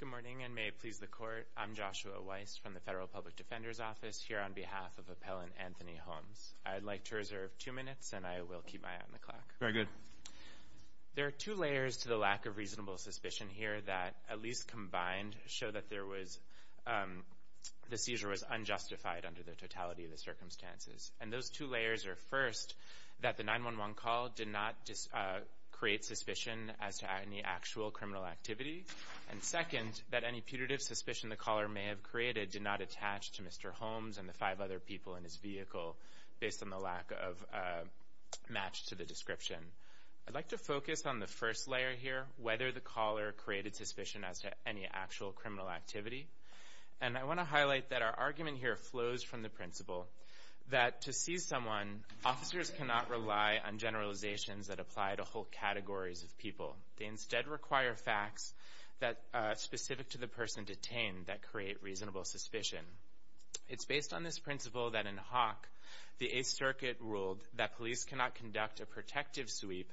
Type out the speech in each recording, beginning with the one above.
Good morning, and may it please the Court, I'm Joshua Weiss from the Federal Public Defender's Office here on behalf of Appellant Anthony Holmes. I'd like to reserve two minutes and I will keep my eye on the clock. Very good. There are two layers to the lack of reasonable suspicion here that, at least combined, show that the seizure was unjustified under the totality of the circumstances. And those two layers are, first, that the 911 call did not create suspicion as to any actual criminal activity, and second, that any putative suspicion the caller may have created did not attach to Mr. Holmes and the five other people in his vehicle based on the lack of match to the description. I'd like to focus on the first layer here, whether the caller created suspicion as to any actual criminal activity. And I want to highlight that our argument here flows from the principle that to seize someone, officers cannot rely on generalizations that apply to whole categories of people. They instead require facts that, specific to the person detained, that create reasonable suspicion. It's based on this principle that in Hawk, the 8th Circuit ruled that police cannot conduct a protective sweep,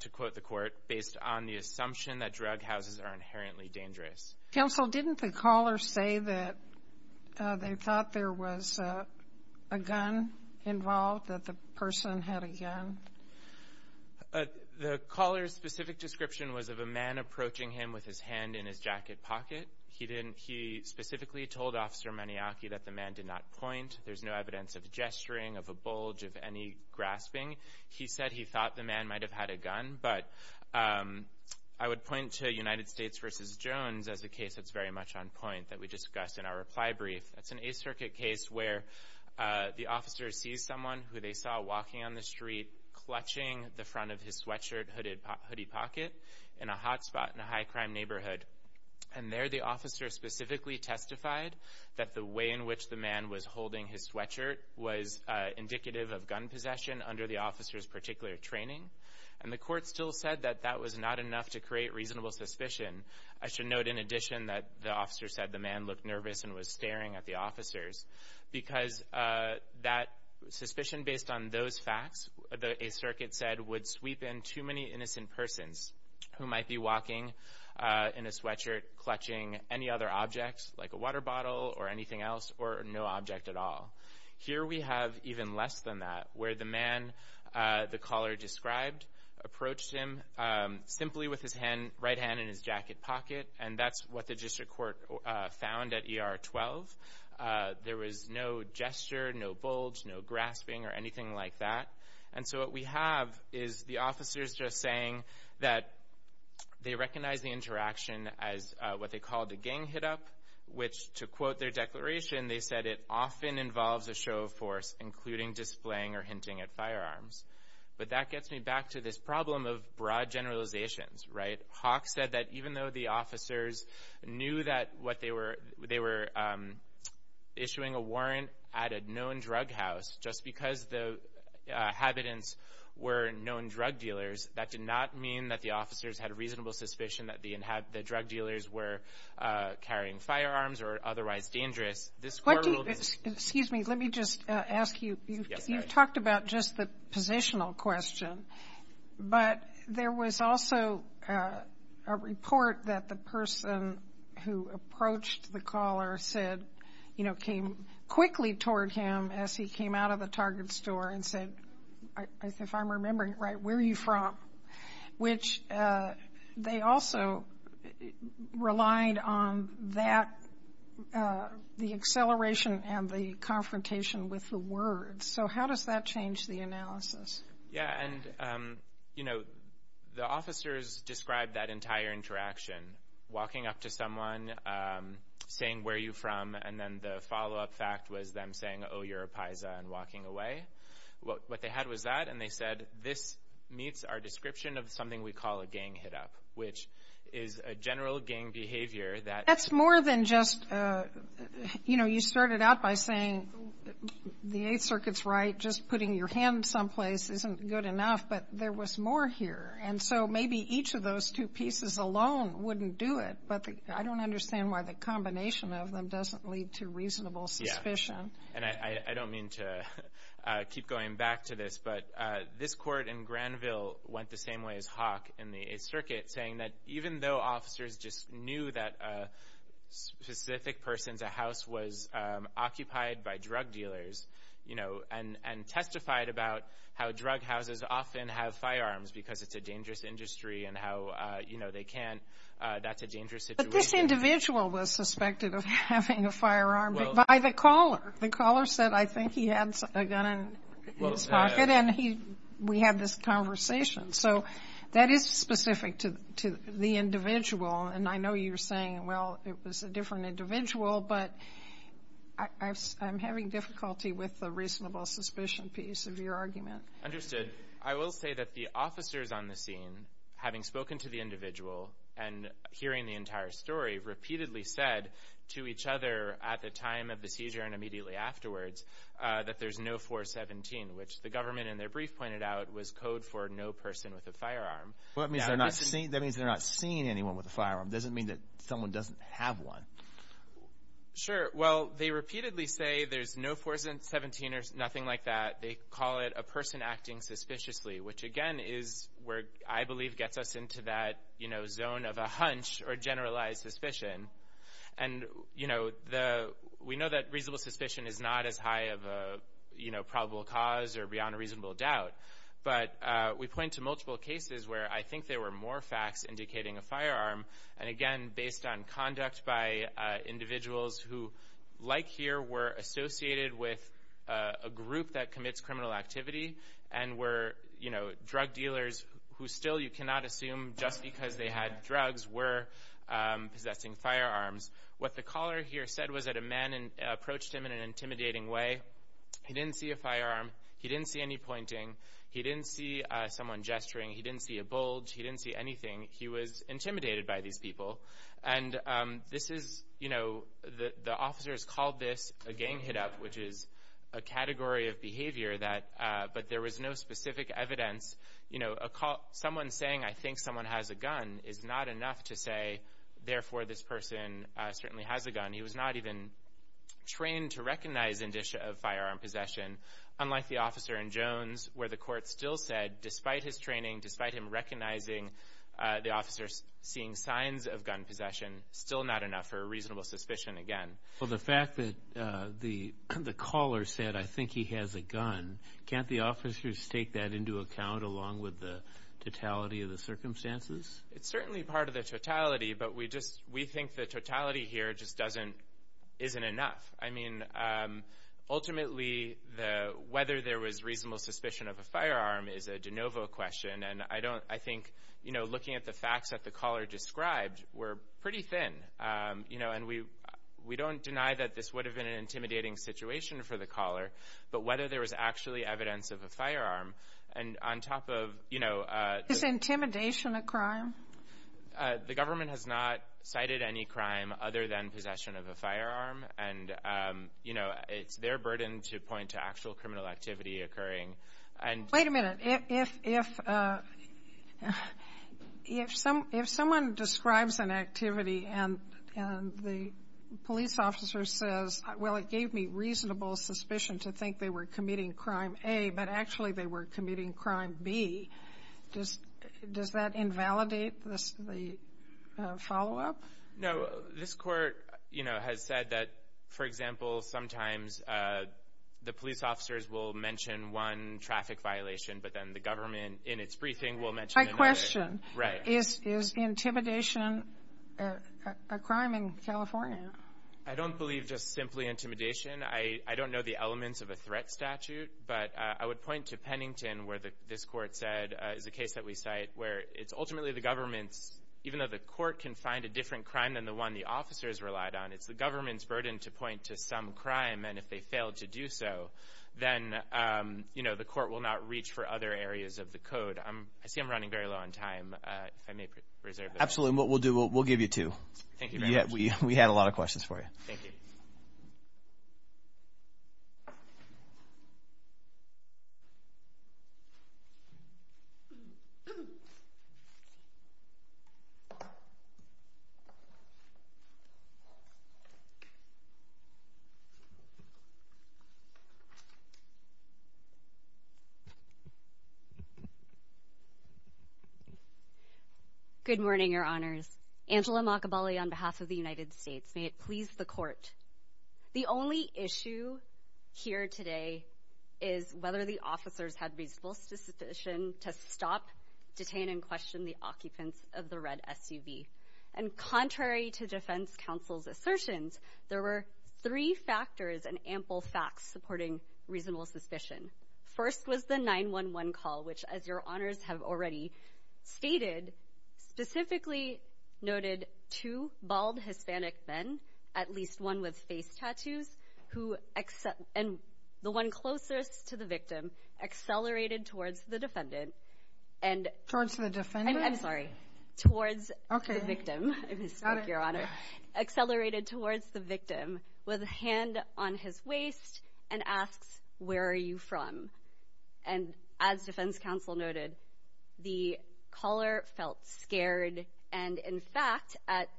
to quote the Court, based on the assumption that drug houses are inherently dangerous. Counsel, didn't the caller say that they thought there was a gun involved, that the person had a gun? The caller's specific description was of a man approaching him with his hand in his jacket pocket. He didn't he specifically told Officer Maniocchi that the man did not point. There's no evidence of gesturing, of a bulge, of any grasping. He said he thought the man might have had a gun. But I would point to United States v. Jones as a case that's very much on point, that we discussed in our reply brief. That's an 8th Circuit case where the officer sees someone who they saw walking on the street, clutching the front of his sweatshirt hooded hoodie pocket, in a hot spot in a high crime neighborhood. And there the officer specifically testified that the way in which the man was holding his sweatshirt was indicative of gun possession under the officer's particular training. And the court still said that that was not enough to create reasonable suspicion. I should note in addition that the officer said the man looked nervous and was staring at the officers. Because that suspicion based on those facts, a circuit said, would sweep in too many innocent persons who might be walking in a sweatshirt clutching any other objects, like a water bottle or anything else, or no object at all. Here we have even less than that, where the man, the caller described, approached him simply with his right hand in his jacket pocket. And that's what the district court found at ER 12. There was no gesture, no bulge, no grasping or anything like that. And so what we have is the officers just saying that they recognize the interaction as what they call the gang hit up, which to quote their declaration, they said it often involves a show of force, including displaying or hinting at firearms. But that gets me back to this problem of broad generalizations, right? Hawk said that even though the officers knew that what they were, they were issuing a warrant at a known drug house, just because the inhabitants were known drug dealers, that did not mean that the officers had a reasonable suspicion that the drug dealers were carrying firearms or otherwise dangerous. This court ruled that they were not. Excuse me. Let me just ask you, you've talked about just the positional question, but there was also a report that the person who approached the caller said, you know, came quickly toward him as he came out of the Target store and said, if I'm remembering right, where are you from? Which they also relied on that, the acceleration and the confrontation with the words. So how does that change the analysis? Yeah. And, you know, the officers described that entire interaction, walking up to someone, saying, where are you from? And then the follow up fact was them saying, oh, you're a paisa and walking away. What they had was that. And they said, this meets our description of something we call a gang hit up, which is a general gang behavior. That's more than just, you know, you started out by saying the Eighth Circuit's right. Just putting your hand someplace isn't good enough. But there was more here. And so maybe each of those two pieces alone wouldn't do it. But I don't understand why the combination of them doesn't lead to reasonable suspicion. And I don't mean to keep going back to this, but this court in Granville went the same way as Hawk in the Eighth Circuit, saying that even though officers just knew that a specific person's house was occupied by drug dealers, you know, and testified about how drug houses often have firearms because it's a dangerous industry and how, you know, they can't, that's a dangerous situation. But this individual was suspected of having a firearm by the caller. The caller said, I think he had a gun in his pocket and we had this conversation. So that is specific to the individual. And I know you're saying, well, it was a different individual, but I'm having difficulty with the reasonable suspicion piece of your argument. Understood. I will say that the officers on the scene, having spoken to the individual and hearing the entire story, repeatedly said to each other at the time of the seizure and immediately afterwards that there's no 417, which the government in their brief pointed out was code for no person with a firearm. Well, that means they're not seeing anyone with a firearm. It doesn't mean that someone doesn't have one. Sure. Well, they repeatedly say there's no 417 or nothing like that. They call it a person acting suspiciously, which again is where I believe gets us into that zone of a hunch or generalized suspicion. And we know that reasonable suspicion is not as high of a probable cause or beyond a reasonable doubt. But we point to multiple cases where I think there were more facts indicating a firearm. And again, based on conduct by individuals who, like here, were associated with a group that commits criminal activity and were drug dealers who still you cannot assume just because they had drugs were possessing firearms. What the caller here said was that a man approached him in an intimidating way. He didn't see a firearm. He didn't see any pointing. He didn't see someone gesturing. He didn't see a bulge. He didn't see anything. He was intimidated by these people. And the officers called this a gang hit-up, which is a category of behavior but there was no specific evidence. Someone saying, I think someone has a gun, is not enough to say, therefore, this person certainly has a gun. He was not even trained to recognize indicia of firearm possession. Unlike the officer in Jones, where the court still said, despite his training, despite him recognizing the officers seeing signs of gun possession, still not enough for a reasonable suspicion again. Well, the fact that the caller said, I think he has a gun, can't the officers take that into account along with the totality of the circumstances? It's certainly part of the totality, but we think the totality here just isn't enough. I mean, ultimately, whether there was reasonable suspicion of a firearm is a de novo question, and I think looking at the facts that the caller described, we're pretty thin. And we don't deny that this would have been an intimidating situation for the caller, but whether there was actually evidence of a firearm, and on top of... Is intimidation a crime? The government has not cited any crime other than possession of a firearm, and it's their burden to point to actual criminal activity occurring. Wait a minute. If someone describes an activity and the police officer says, well, it gave me reasonable suspicion to think they were committing Crime A, but actually they were committing Crime B, does that invalidate the follow-up? No. This Court, you know, has said that, for example, sometimes the police officers will mention one traffic violation, but then the government, in its briefing, will mention another. I question. Right. Is intimidation a crime in California? I don't believe just simply intimidation. I don't know the elements of a threat statute, but I would point to Pennington, where this Court said is a case that we cite, where it's ultimately the government's, even though the court can find a different crime than the one the officers relied on, it's the government's burden to point to some crime, and if they fail to do so, then, you know, the court will not reach for other areas of the code. I see I'm running very low on time. If I may reserve the floor. Absolutely. And what we'll do, we'll give you two. Thank you very much. We had a lot of questions for you. Thank you. Thank you. Good morning, Your Honors. Angela Makabali on behalf of the United States. May it please the Court. The only issue here today is whether the officers had reasonable suspicion to stop, detain, and question the occupants of the red SUV. And contrary to defense counsel's assertions, there were three factors and ample facts supporting reasonable suspicion. First was the 911 call, which, as Your Honors have already stated, specifically noted two bald Hispanic men, at least one with face tattoos, and the one closest to the victim accelerated towards the defendant. Towards the defendant? I'm sorry. Towards the victim, if you speak, Your Honor. Accelerated towards the victim with a hand on his waist and asks, where are you from? And as defense counsel noted, the caller felt scared. And, in fact,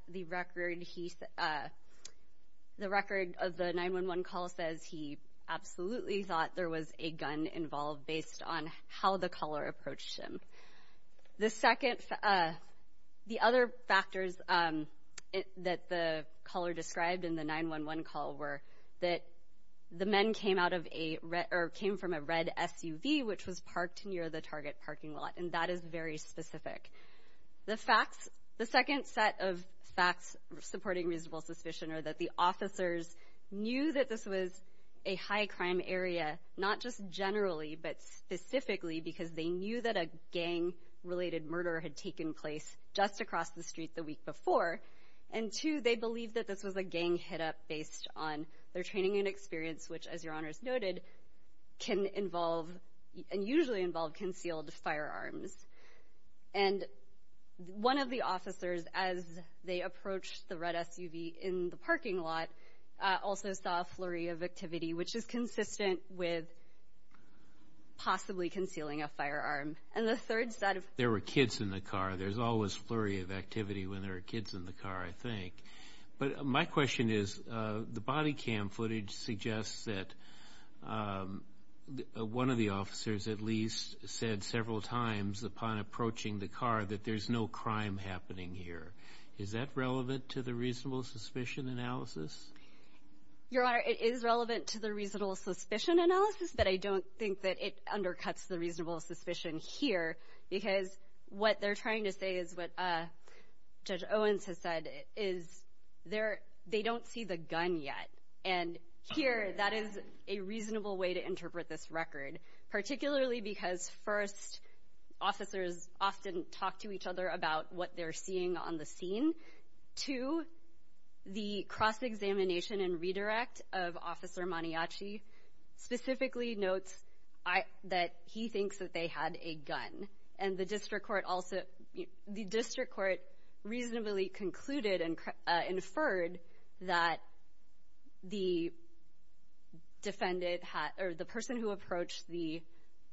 the record of the 911 call says he absolutely thought there was a gun involved based on how the caller approached him. The other factors that the caller described in the 911 call were that the men came from a red SUV, which was parked near the target parking lot, and that is very specific. The second set of facts supporting reasonable suspicion are that the officers knew that this was a high-crime area, not just generally, but specifically, because they knew that a gang-related murder had taken place just across the street the week before. And, two, they believed that this was a gang hit-up based on their training and experience, which, as Your Honors noted, can involve and usually involve concealed firearms. And one of the officers, as they approached the red SUV in the parking lot, also saw a flurry of activity, which is consistent with possibly concealing a firearm. And the third set of… There were kids in the car. There's always flurry of activity when there are kids in the car, I think. But my question is, the body cam footage suggests that one of the officers at least said several times upon approaching the car that there's no crime happening here. Is that relevant to the reasonable suspicion analysis? Your Honor, it is relevant to the reasonable suspicion analysis, but I don't think that it undercuts the reasonable suspicion here, because what they're trying to say is what Judge Owens has said, is they don't see the gun yet. And here, that is a reasonable way to interpret this record, particularly because, first, officers often talk to each other about what they're seeing on the scene. Two, the cross-examination and redirect of Officer Maniaci specifically notes that he thinks that they had a gun. And the district court reasonably concluded and inferred that the person who approached the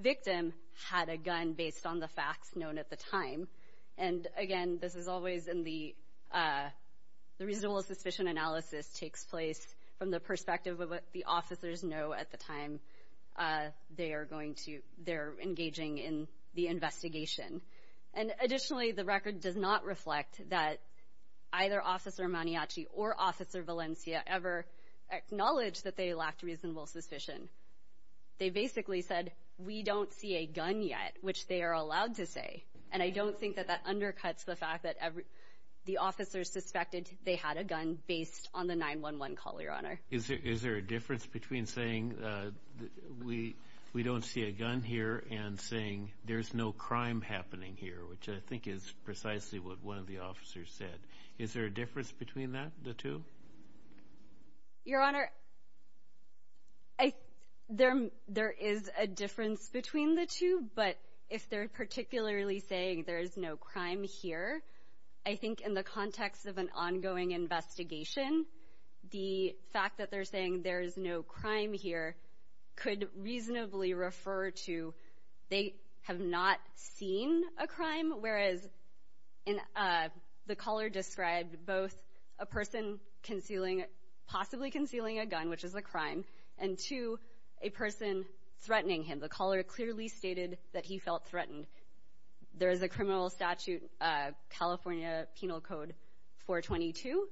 victim had a gun based on the facts known at the time. And, again, this is always in the reasonable suspicion analysis takes place from the perspective of what the officers know at the time they're engaging in the investigation. And, additionally, the record does not reflect that either Officer Maniaci or Officer Valencia ever acknowledged that they lacked reasonable suspicion. They basically said, we don't see a gun yet, which they are allowed to say. And I don't think that that undercuts the fact that the officers suspected they had a gun based on the 911 call, Your Honor. Is there a difference between saying we don't see a gun here and saying there's no crime happening here, which I think is precisely what one of the officers said? Is there a difference between that, the two? Your Honor, there is a difference between the two, but if they're particularly saying there is no crime here, I think in the context of an ongoing investigation, the fact that they're saying there is no crime here could reasonably refer to they have not seen a crime, whereas the caller described both a person possibly concealing a gun, which is a crime, and two, a person threatening him. The caller clearly stated that he felt threatened. There is a criminal statute, California Penal Code 422,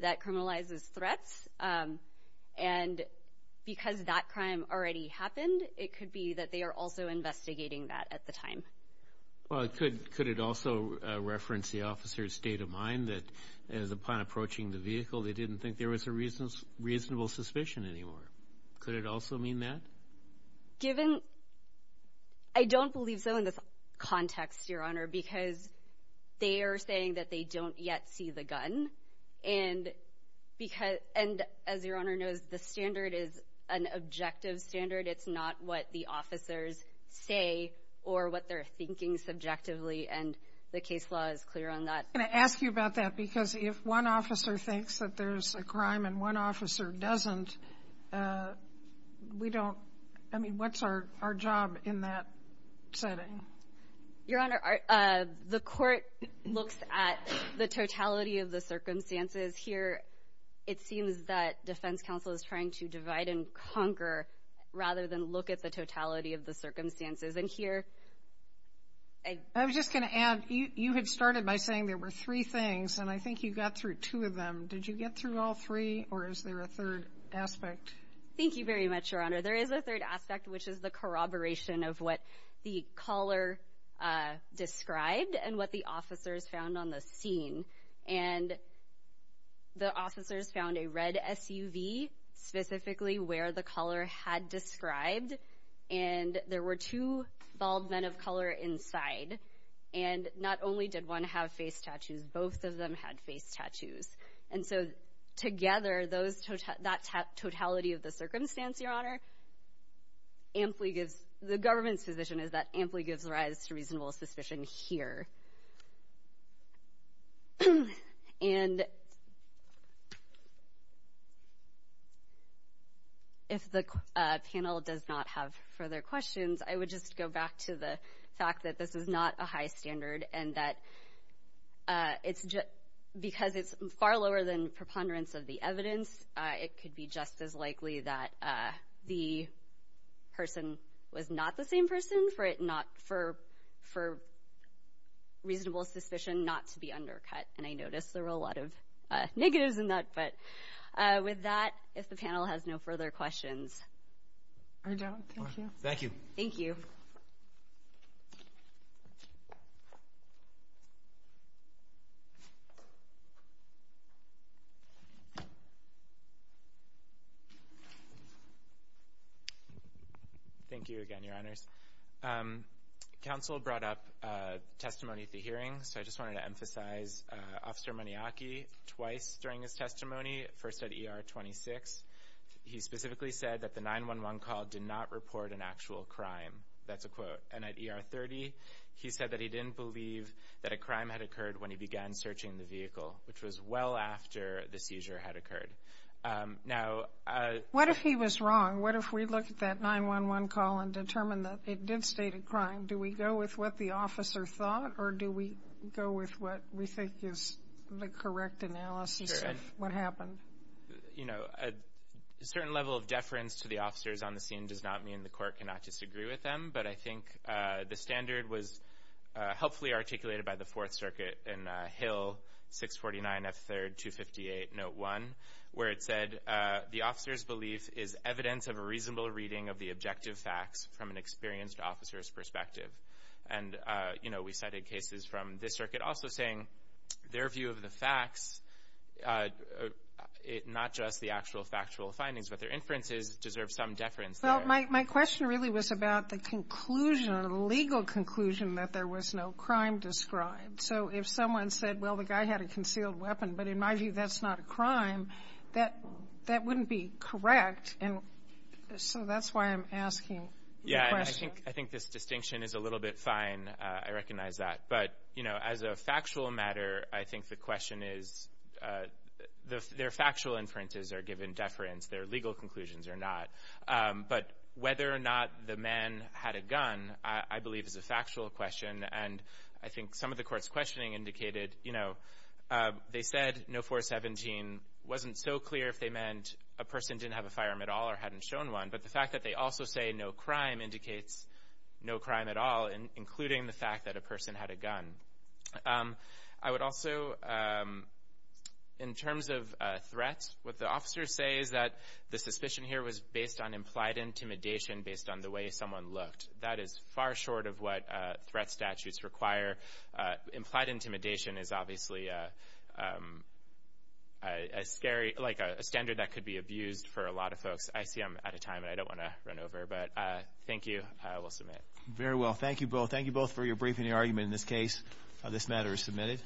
that criminalizes threats, and because that crime already happened, it could be that they are also investigating that at the time. Well, could it also reference the officer's state of mind that upon approaching the vehicle, they didn't think there was a reasonable suspicion anymore? Could it also mean that? Given — I don't believe so in this context, Your Honor, because they are saying that they don't yet see the gun, and because — and as Your Honor knows, the standard is an objective standard. It's not what the officers say or what they're thinking subjectively, and the case law is clear on that. I'm going to ask you about that because if one officer thinks that there's a crime and one officer doesn't, we don't — I mean, what's our job in that setting? Your Honor, the court looks at the totality of the circumstances. Here, it seems that defense counsel is trying to divide and conquer rather than look at the totality of the circumstances. And here — I was just going to add, you had started by saying there were three things, and I think you got through two of them. Did you get through all three, or is there a third aspect? Thank you very much, Your Honor. There is a third aspect, which is the corroboration of what the caller described and what the officers found on the scene. And the officers found a red SUV, specifically where the caller had described, and there were two bald men of color inside. And not only did one have face tattoos, both of them had face tattoos. And so together, that totality of the circumstance, Your Honor, amply gives — the government's position is that amply gives rise to reasonable suspicion here. And if the panel does not have further questions, I would just go back to the fact that this is not a high standard and that because it's far lower than preponderance of the evidence, it could be just as likely that the person was not the same person for reasonable suspicion not to be undercut. And I noticed there were a lot of negatives in that. But with that, if the panel has no further questions. I don't. Thank you. Thank you. Thank you again, Your Honors. Counsel brought up testimony at the hearing, so I just wanted to emphasize Officer Muniaki twice during his testimony, first at ER 26. He specifically said that the 911 call did not report an actual crime. That's a quote. And at ER 30, he said that he didn't believe that a crime had occurred when he began searching the vehicle, which was well after the seizure had occurred. Now — What if he was wrong? What if we look at that 911 call and determine that it did state a crime? Do we go with what the officer thought, or do we go with what we think is the correct analysis of what happened? You know, a certain level of deference to the officers on the scene does not mean the court cannot disagree with them. But I think the standard was helpfully articulated by the Fourth Circuit in Hill 649 F3rd 258 Note 1, where it said, the officer's belief is evidence of a reasonable reading of the objective facts from an experienced officer's perspective. And, you know, we cited cases from this circuit also saying their view of the facts, not just the actual factual findings, but their inferences deserve some deference there. Well, my question really was about the conclusion or the legal conclusion that there was no crime described. So if someone said, well, the guy had a concealed weapon, but in my view, that's not a crime, that wouldn't be correct. And so that's why I'm asking the question. Yeah, and I think this distinction is a little bit fine. I recognize that. But, you know, as a factual matter, I think the question is their factual inferences are given deference. Their legal conclusions are not. But whether or not the man had a gun, I believe, is a factual question. And I think some of the court's questioning indicated, you know, they said no 417 wasn't so clear if they meant a person didn't have a firearm at all or hadn't shown one. But the fact that they also say no crime indicates no crime at all, including the fact that a person had a gun. I would also, in terms of threats, what the officers say is that the suspicion here was based on implied intimidation, based on the way someone looked. That is far short of what threat statutes require. Implied intimidation is obviously a scary, like a standard that could be abused for a lot of folks. I see I'm out of time, and I don't want to run over. But thank you. I will submit. Very well. Thank you both. Thank you both for your briefing and your argument in this case. This matter is submitted.